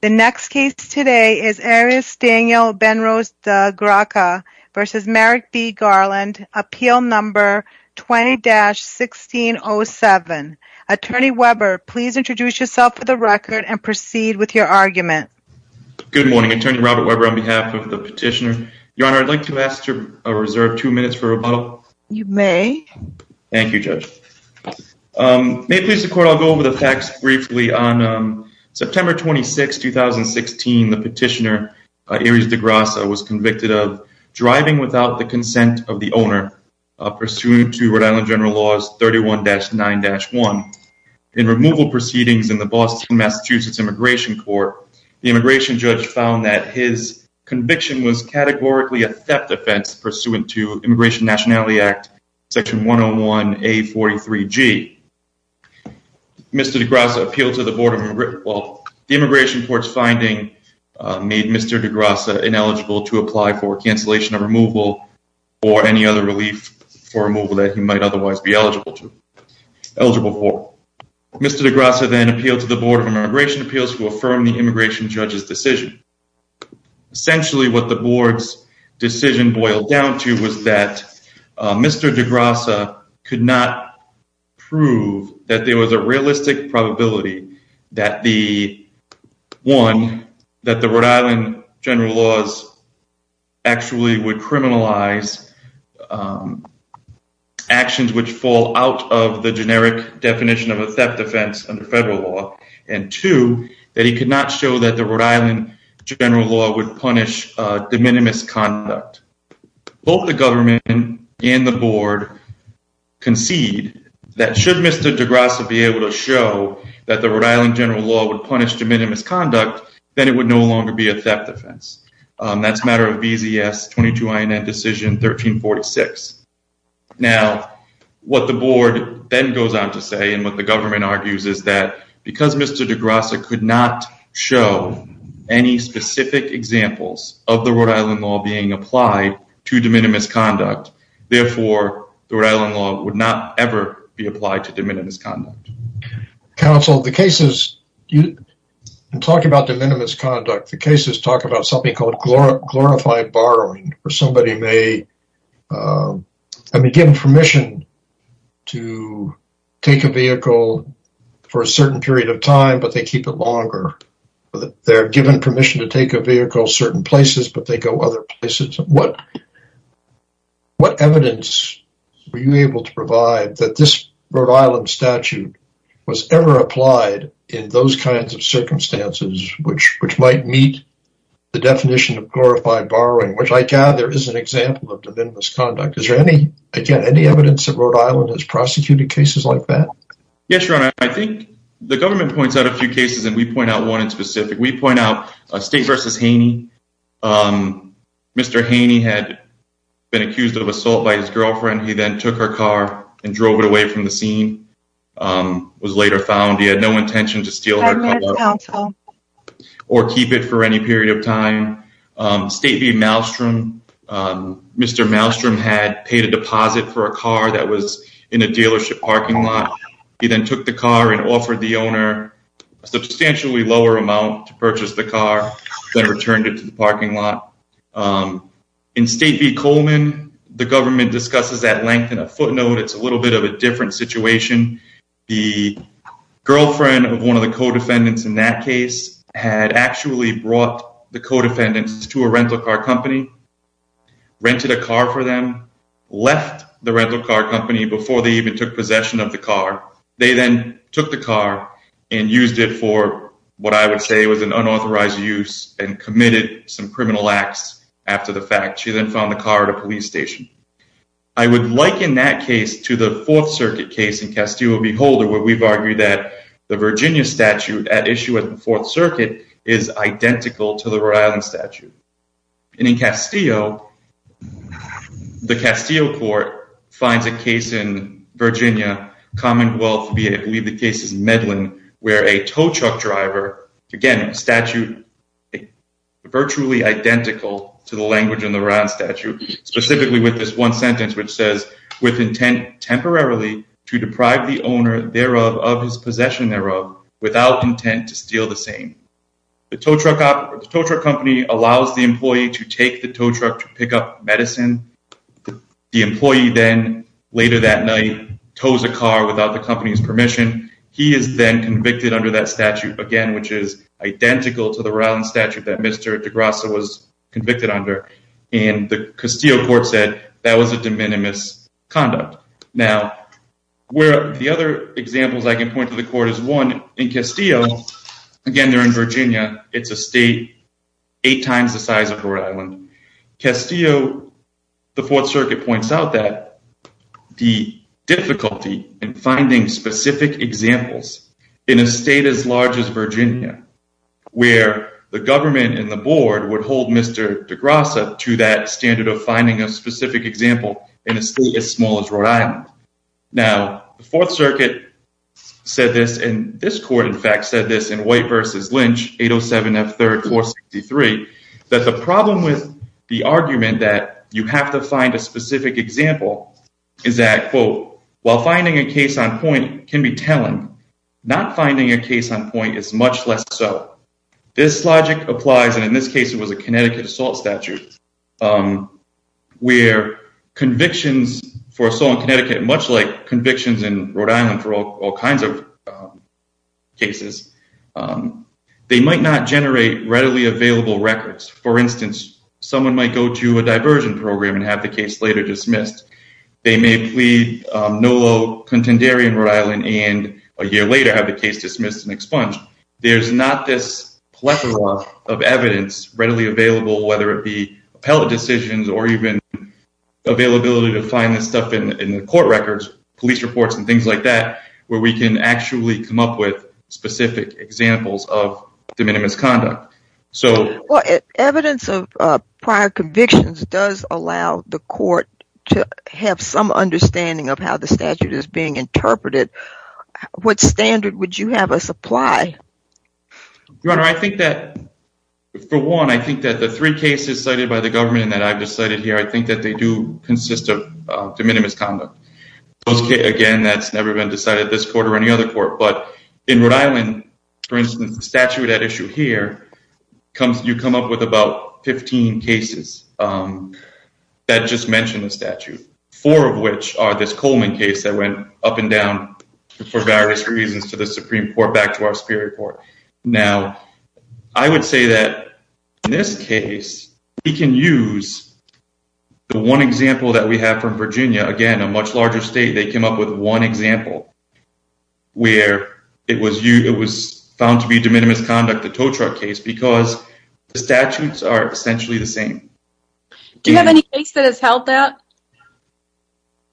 The next case today is Arius Daniel Benrose de Graca v. Merrick B. Garland, appeal number 20-1607. Attorney Weber, please introduce yourself for the record and proceed with your argument. Good morning, Attorney Robert Weber on behalf of the petitioner. Your Honor, I'd like to ask to reserve two minutes for rebuttal. You may. Thank you, Judge. May it please the Court, I'll go over the facts briefly. On September 26, 2016, the petitioner, Arius de Graca, was convicted of driving without the consent of the owner, pursuant to Rhode Island General Laws 31-9-1. In removal proceedings in the Boston-Massachusetts Immigration Court, the immigration judge found that his conviction was categorically a theft offense, pursuant to Immigration Nationality Act Section 101-A43-G. Mr. de Graca appealed to the Board of Immigration. Well, the Immigration Court's finding made Mr. de Graca ineligible to apply for cancellation of removal or any other relief for removal that he might otherwise be eligible for. Mr. de Graca then appealed to the Board of Immigration Appeals to affirm the immigration judge's decision. Essentially, what the Board's decision boiled down to was that Mr. de Graca could not prove that there was a realistic probability that the, one, that the Rhode Island General Laws actually would criminalize actions which fall out of the generic definition of a theft offense under federal law, and two, that he could not show that the Rhode Island General Law would punish de minimis conduct. Both the government and the Board concede that should Mr. de Graca be able to show that the Rhode Island General Law would punish de minimis conduct, then it would no longer be a theft offense. That's a matter of BZS 22INN Decision 1346. Now, what the Board then goes on to say and what the government argues is that because Mr. de Graca could not show any specific examples of the Rhode Island law being applied to de minimis conduct, therefore, the Rhode Island law would not ever be applied to de minimis conduct. Counsel, the cases, in talking about de minimis conduct, the cases talk about something called glorified borrowing, where somebody may be given permission to take a vehicle for a certain period of time, but they keep it longer. They're given permission to take a vehicle certain places, but they go other places. What evidence were you able to provide that this Rhode Island statute was ever applied in those kinds of circumstances which might meet the definition of glorified borrowing, which I gather is an example of de minimis conduct. Is there any evidence that Rhode Island has prosecuted cases like that? Yes, Your Honor. I think the government points out a few cases, and we point out one in specific. We point out State v. Haney. Mr. Haney had been accused of assault by his girlfriend. He then took her car and drove it away from the scene. It was later found he had no intention to steal her car or keep it for any period of time. State v. Malmstrom, Mr. Malmstrom had paid a deposit for a car that was in a dealership parking lot. He then took the car and offered the owner a substantially lower amount to purchase the car, then returned it to the parking lot. In State v. Coleman, the government discusses that length in a footnote. It's a little bit of a different situation. The girlfriend of one of the co-defendants in that case had actually brought the co-defendants to a rental car company, rented a car for them, left the rental car company before they even took possession of the car. They then took the car and used it for what I would say was an unauthorized use and committed some criminal acts after the fact. She then found the car at a police station. I would liken that case to the Fourth Circuit case in Castillo v. Holder where we've argued that the Virginia statute at issue at the Fourth Circuit is identical to the Rhode Island statute. In Castillo, the Castillo court finds a case in Virginia Commonwealth, I believe the case is Medlin, where a tow truck driver, again, a statute virtually identical to the language in the Rhode Island statute, specifically with this one sentence which says, with intent temporarily to deprive the owner thereof of his possession thereof without intent to steal the same. The tow truck company allows the employee to take the tow truck to pick up medicine. The employee then, later that night, tows a car without the company's permission. He is then convicted under that statute, again, which is identical to the Rhode Island statute that Mr. DeGrasse was convicted under. And the Castillo court said that was a de minimis conduct. Now, the other examples I can point to the court is one in Castillo, again, they're in Virginia. It's a state eight times the size of Rhode Island. Castillo, the Fourth Circuit points out that the difficulty in finding specific examples in a state as large as Virginia, where the government and the board would hold Mr. DeGrasse to that standard of finding a specific example in a state as small as Rhode Island. Now, the Fourth Circuit said this, and this court, in fact, said this in White v. Lynch, 807 F. 3rd 463, that the problem with the argument that you have to find a specific example is that, quote, while finding a case on point can be telling, not finding a case on point is much less so. This logic applies, and in this case, it was a Connecticut assault statute, where convictions for assault in Connecticut, much like convictions in Rhode Island for all kinds of cases, they might not generate readily available records. For instance, someone might go to a diversion program and have the case later dismissed. They may plead no low contendere in Rhode Island and a year later have the case dismissed and expunged. There's not this plethora of evidence readily available, whether it be appellate decisions or even availability to find this stuff in the court records, police reports and things like that, where we can actually come up with specific examples of de minimis conduct. Evidence of prior convictions does allow the court to have some understanding of how the statute is being interpreted. What standard would you have us apply? Your Honor, I think that, for one, I think that the three cases cited by the government that I've decided here, I think that they do consist of de minimis conduct. Again, that's never been decided at this court or any other court, but in Rhode Island, for instance, the statute at issue here, you come up with about 15 cases that just mention the statute, four of which are this Coleman case that went up and down for various reasons to the Supreme Court, back to our Superior Court. Now, I would say that in this case, we can use the one example that we have from Virginia. Again, a much larger state, they came up with one example where it was found to be de minimis conduct, the tow truck case, because the statutes are essentially the same. Do you have any case that has held that?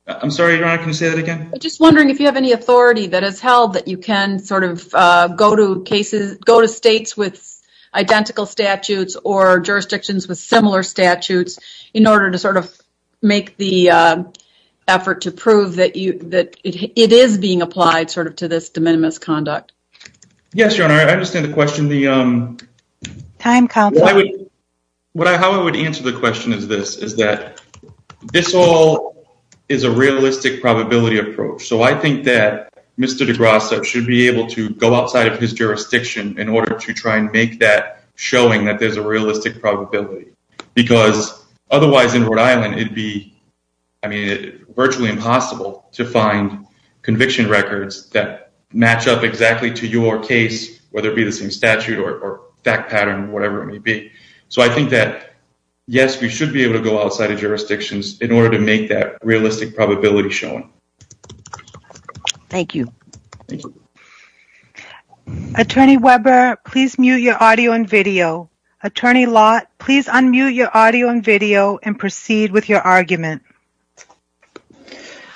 I'm sorry, Your Honor, can you say that again? I'm just wondering if you have any authority that has held that you can sort of go to states with identical statutes or jurisdictions with similar statutes in order to sort of make the effort to prove that it is being applied sort of to this de minimis conduct. Yes, Your Honor, I understand the question. How I would answer the question is this, is that this all is a realistic probability approach. So I think that Mr. DeGrasse should be able to go outside of his jurisdiction in order to try and make that showing that there's a realistic probability. Because otherwise in Rhode Island, it'd be virtually impossible to find conviction records that match up exactly to your case, whether it be the same statute or fact pattern, whatever it may be. So I think that, yes, we should be able to go outside of jurisdictions in order to make that realistic probability showing. Thank you. Thank you. Attorney Weber, please mute your audio and video. Attorney Lott, please unmute your audio and video and proceed with your argument.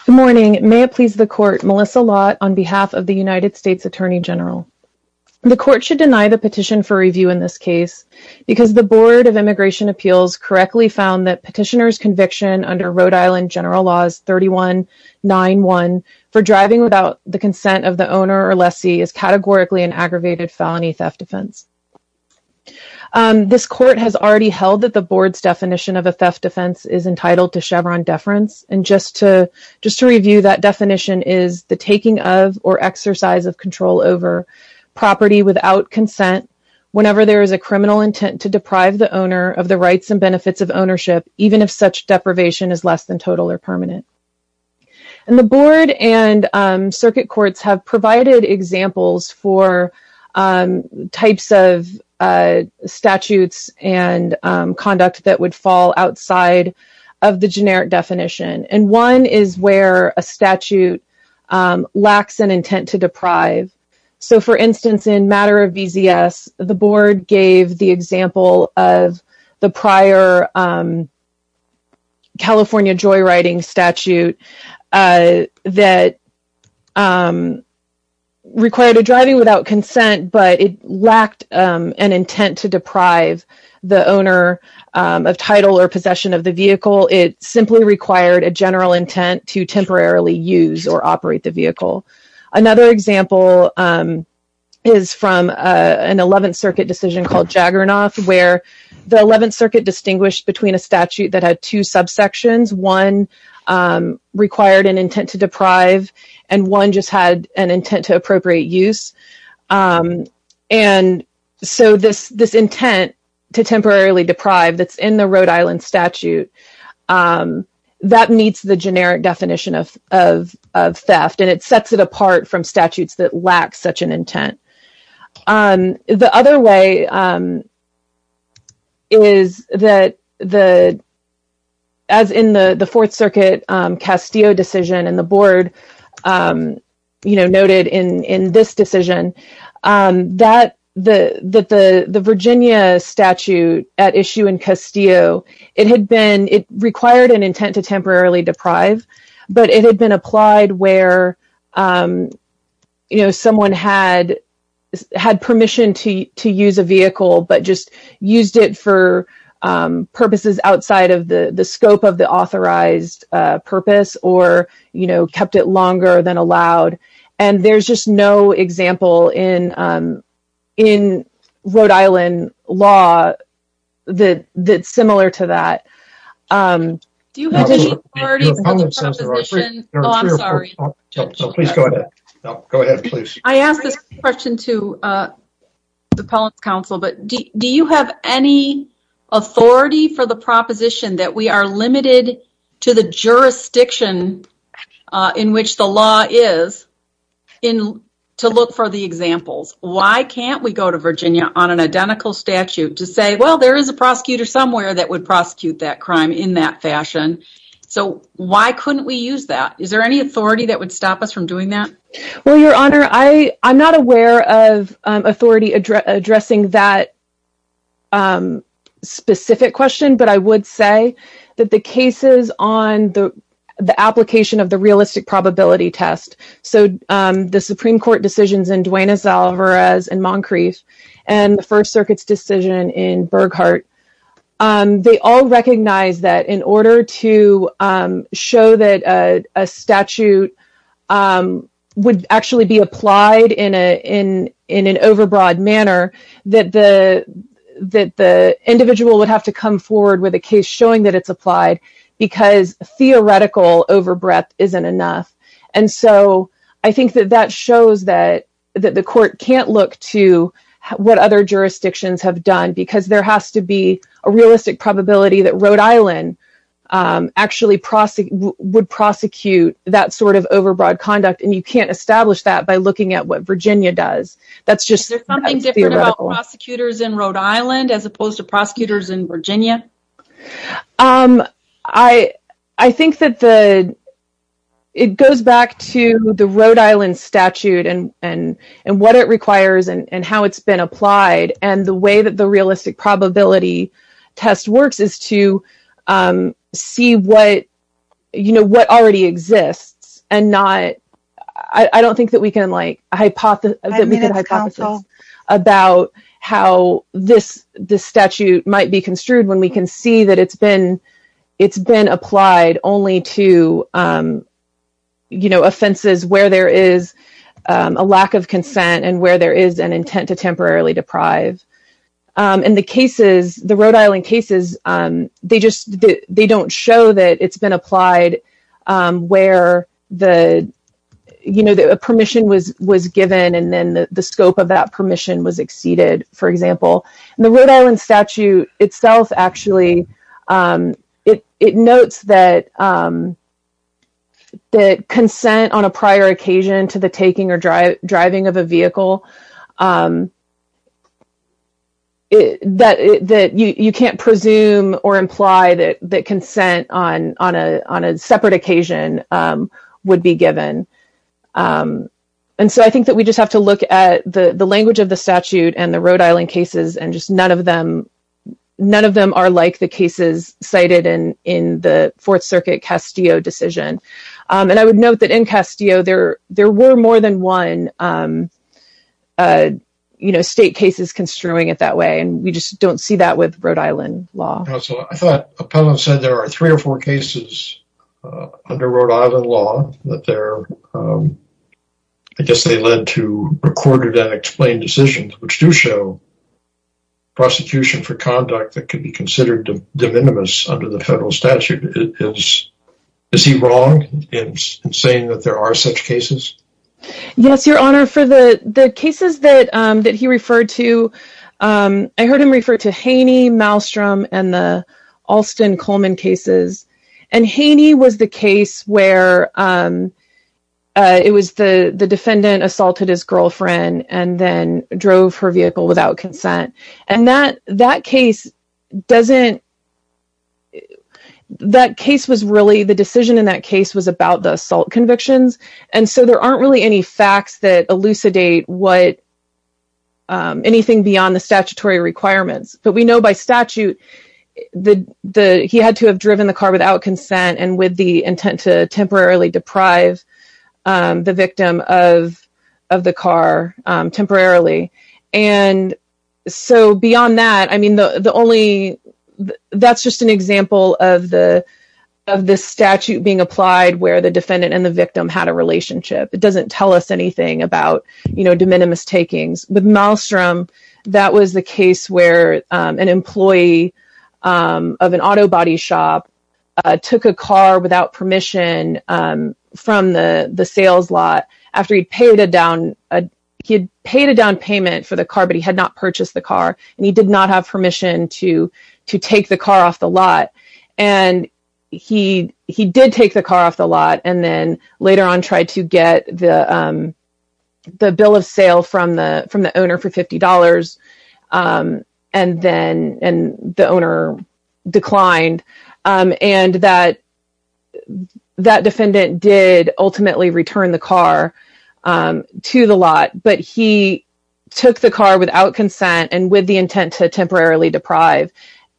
Good morning. May it please the Court, Melissa Lott on behalf of the United States Attorney General. The Court should deny the petition for review in this case because the Board of Immigration Appeals correctly found that petitioner's conviction under Rhode Island General Laws 3191 for driving without the consent of the owner or lessee is categorically an aggravated felony theft offense. This court has already held that the board's definition of a theft offense is entitled to Chevron deference. And just to review, that definition is the taking of or exercise of control over property without consent whenever there is a criminal intent to deprive the owner of the rights and benefits of ownership, even if such deprivation is less than total or permanent. And the board and circuit courts have provided examples for types of statutes and conduct that would fall outside of the generic definition. And one is where a statute lacks an intent to deprive. So, for instance, in matter of VZS, the board gave the example of the prior California joyriding statute that required a driving without consent, but it lacked an intent to deprive the owner of title or possession of the vehicle. It simply required a general intent to temporarily use or operate the vehicle. Another example is from an 11th Circuit decision called Jagernoff, where the 11th Circuit distinguished between a statute that had two subsections. One required an intent to deprive, and one just had an intent to appropriate use. And so this intent to temporarily deprive that's in the Rhode Island statute, that meets the generic definition of theft, and it sets it apart from statutes that lack such an intent. The other way is that, as in the Fourth Circuit Castillo decision, and the board noted in this decision, that the Virginia statute at issue in Castillo, it required an intent to temporarily deprive, but it had been applied where someone had permission to use a vehicle, but just used it for purposes outside of the scope of the authorized purpose or kept it longer than allowed. And there's just no example in Rhode Island law that's similar to that. Do you have any authority for the proposition? Oh, I'm sorry. Please go ahead. Go ahead, please. I asked this question to the policy council, but do you have any authority for the proposition that we are limited to the jurisdiction in which the law is to look for the examples? Why can't we go to Virginia on an identical statute to say, well, there is a prosecutor somewhere that would prosecute that crime in that fashion? So why couldn't we use that? Is there any authority that would stop us from doing that? Well, Your Honor, I'm not aware of authority addressing that specific question, but I would say that the cases on the application of the realistic probability test, so the Supreme Court decisions in Duenas-Alvarez and Moncrief, and the First Circuit's decision in Burghardt, they all recognize that in order to show that a statute would actually be applied in an overbroad manner, that the individual would have to come forward with a case showing that it's applied because theoretical overbreadth isn't enough. And so I think that that shows that the court can't look to what other jurisdictions have done because there has to be a realistic probability that Rhode Island actually would prosecute that sort of overbroad conduct, and you can't establish that by looking at what Virginia does. Is there something different about prosecutors in Rhode Island as opposed to prosecutors in Virginia? I think that it goes back to the Rhode Island statute and what it requires and how it's been applied and the way that the realistic probability test works is to see what already exists and not… I don't think that we can hypothesize about how this statute might be construed when we can see that it's been applied only to, you know, where there is a lack of consent and where there is an intent to temporarily deprive. And the cases, the Rhode Island cases, they don't show that it's been applied where the, you know, a permission was given and then the scope of that permission was exceeded, for example. And the Rhode Island statute itself actually, it notes that consent on a prior occasion to the taking or driving of a vehicle, that you can't presume or imply that consent on a separate occasion would be given. And so I think that we just have to look at the language of the statute and the Rhode Island cases and just none of them are like the cases cited in the Fourth Circuit Castillo decision. And I would note that in Castillo, there were more than one, you know, state cases construing it that way. And we just don't see that with Rhode Island law. I thought Appellant said there are three or four cases under Rhode Island law that they're, I guess they led to recorded and explained decisions, which do show prosecution for conduct that could be considered de minimis under the federal statute. Is he wrong in saying that there are such cases? Yes, Your Honor, for the cases that he referred to, I heard him refer to Haney, Malstrom, and the Alston-Coleman cases. And Haney was the case where it was the defendant assaulted his girlfriend and then drove her vehicle without consent. And that case doesn't, that case was really, the decision in that case was about the assault convictions. And so there aren't really any facts that elucidate anything beyond the statutory requirements. But we know by statute that he had to have driven the car without consent and with the intent to temporarily deprive the victim of the car temporarily. And so beyond that, I mean, the only, that's just an example of the statute being applied where the defendant and the victim had a relationship. It doesn't tell us anything about, you know, de minimis takings. With Malstrom, that was the case where an employee of an auto body shop took a car without permission from the sales lot after he'd paid a down payment for the car, but he had not purchased the car. And he did not have permission to take the car off the lot. And he did take the car off the lot. And then later on tried to get the bill of sale from the owner for $50. And then the owner declined. And that defendant did ultimately return the car to the lot. But he took the car without consent and with the intent to temporarily deprive.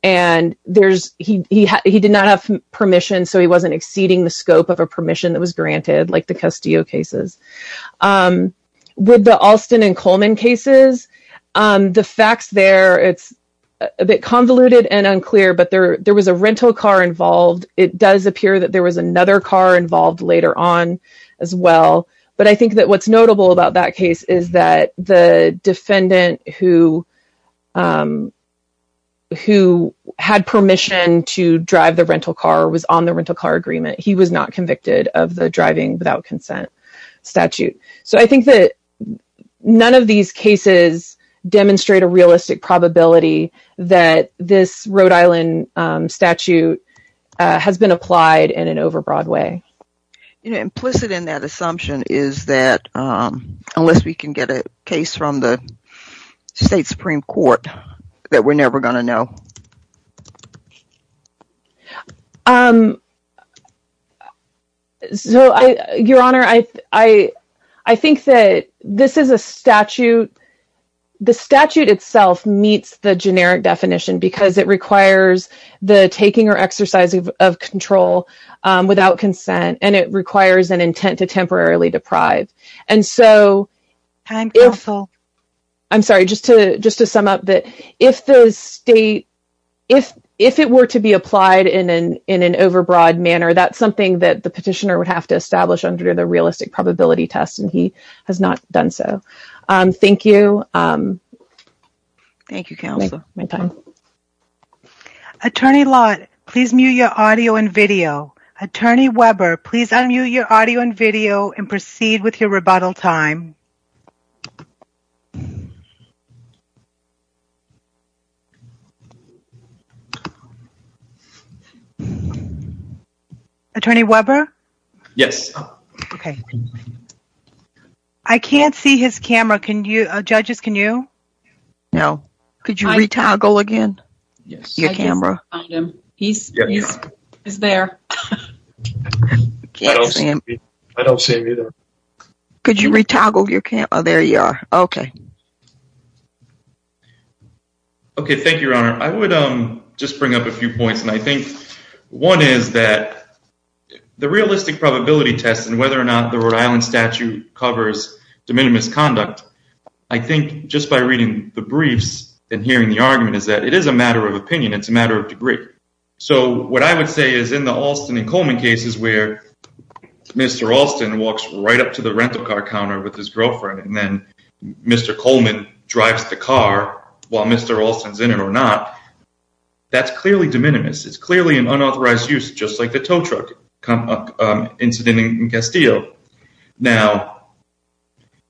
And he did not have permission, so he wasn't exceeding the scope of a permission that was granted, like the Castillo cases. With the Alston and Coleman cases, the facts there, it's a bit convoluted and unclear, but there was a rental car involved. It does appear that there was another car involved later on as well. But I think that what's notable about that case is that the defendant who had permission to drive the rental car was on the rental car agreement. He was not convicted of the driving without consent statute. So I think that none of these cases demonstrate a realistic probability that this Rhode Island statute has been applied in an overbroad way. Implicit in that assumption is that unless we can get a case from the state Supreme Court that we're never going to know. Your Honor, I think that this is a statute. The statute itself meets the generic definition because it requires the taking or exercise of control without consent, and it requires an intent to temporarily deprive. I'm sorry, just to just to sum up that if the state, if it were to be applied in an in an overbroad manner, that's something that the petitioner would have to establish under the realistic probability test, and he has not done so. Thank you. Thank you, Counselor. Attorney Lott, please mute your audio and video. Attorney Weber, please unmute your audio and video and proceed with your rebuttal time. Attorney Weber? Yes. Okay. I can't see his camera. Judges, can you? No. Could you re-toggle again? Yes. Your camera. I can't find him. He's there. I don't see him. I don't see him either. There you are. Okay. Okay, thank you, Your Honor. I would just bring up a few points, and I think one is that the realistic probability test and whether or not the Rhode Island statute covers de minimis conduct, I think just by reading the briefs and hearing the argument is that it is a matter of opinion. It's a matter of degree. So what I would say is in the Alston and Coleman cases where Mr. Alston walks right up to the rental car counter with his girlfriend and then Mr. Coleman drives the car while Mr. Alston's in it or not, that's clearly de minimis. It's clearly an unauthorized use, just like the tow truck incident in Castillo. Now,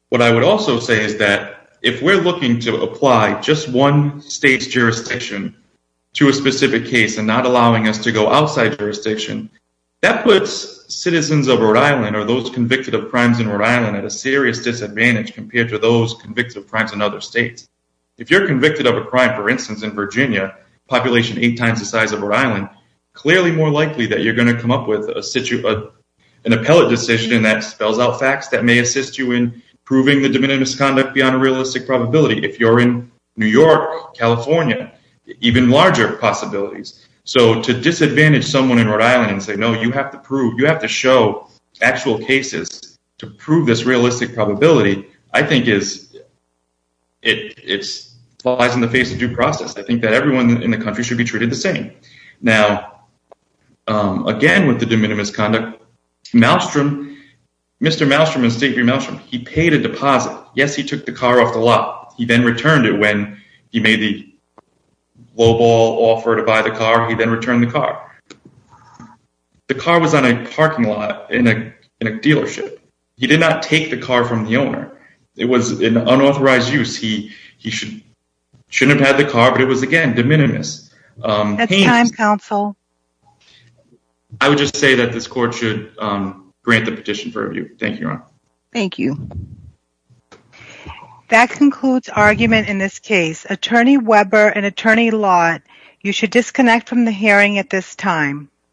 what I would also say is that if we're looking to apply just one state's jurisdiction to a specific case and not allowing us to go outside jurisdiction, that puts citizens of Rhode Island or those convicted of crimes in Rhode Island at a serious disadvantage compared to those convicted of crimes in other states. If you're convicted of a crime, for instance, in Virginia, population eight times the size of Rhode Island, clearly more likely that you're going to come up with an appellate decision that spells out facts that may assist you in proving the de minimis conduct beyond a realistic probability. If you're in New York, California, even larger possibilities. So to disadvantage someone in Rhode Island and say, no, you have to prove, you have to show actual cases to prove this realistic probability, I think it's lies in the face of due process. I think that everyone in the country should be treated the same. Now, again, with the de minimis conduct, Maelstrom, Mr. Maelstrom and Steve Maelstrom, he paid a deposit. Yes, he took the car off the lot. He then returned it when he made the lowball offer to buy the car. He then returned the car. The car was on a parking lot in a dealership. He did not take the car from the owner. It was an unauthorized use. He should have had the car, but it was, again, de minimis. That's time, counsel. I would just say that this court should grant the petition for review. Thank you, Your Honor. Thank you. That concludes argument in this case. Attorney Weber and Attorney Lott, you should disconnect from the hearing at this time.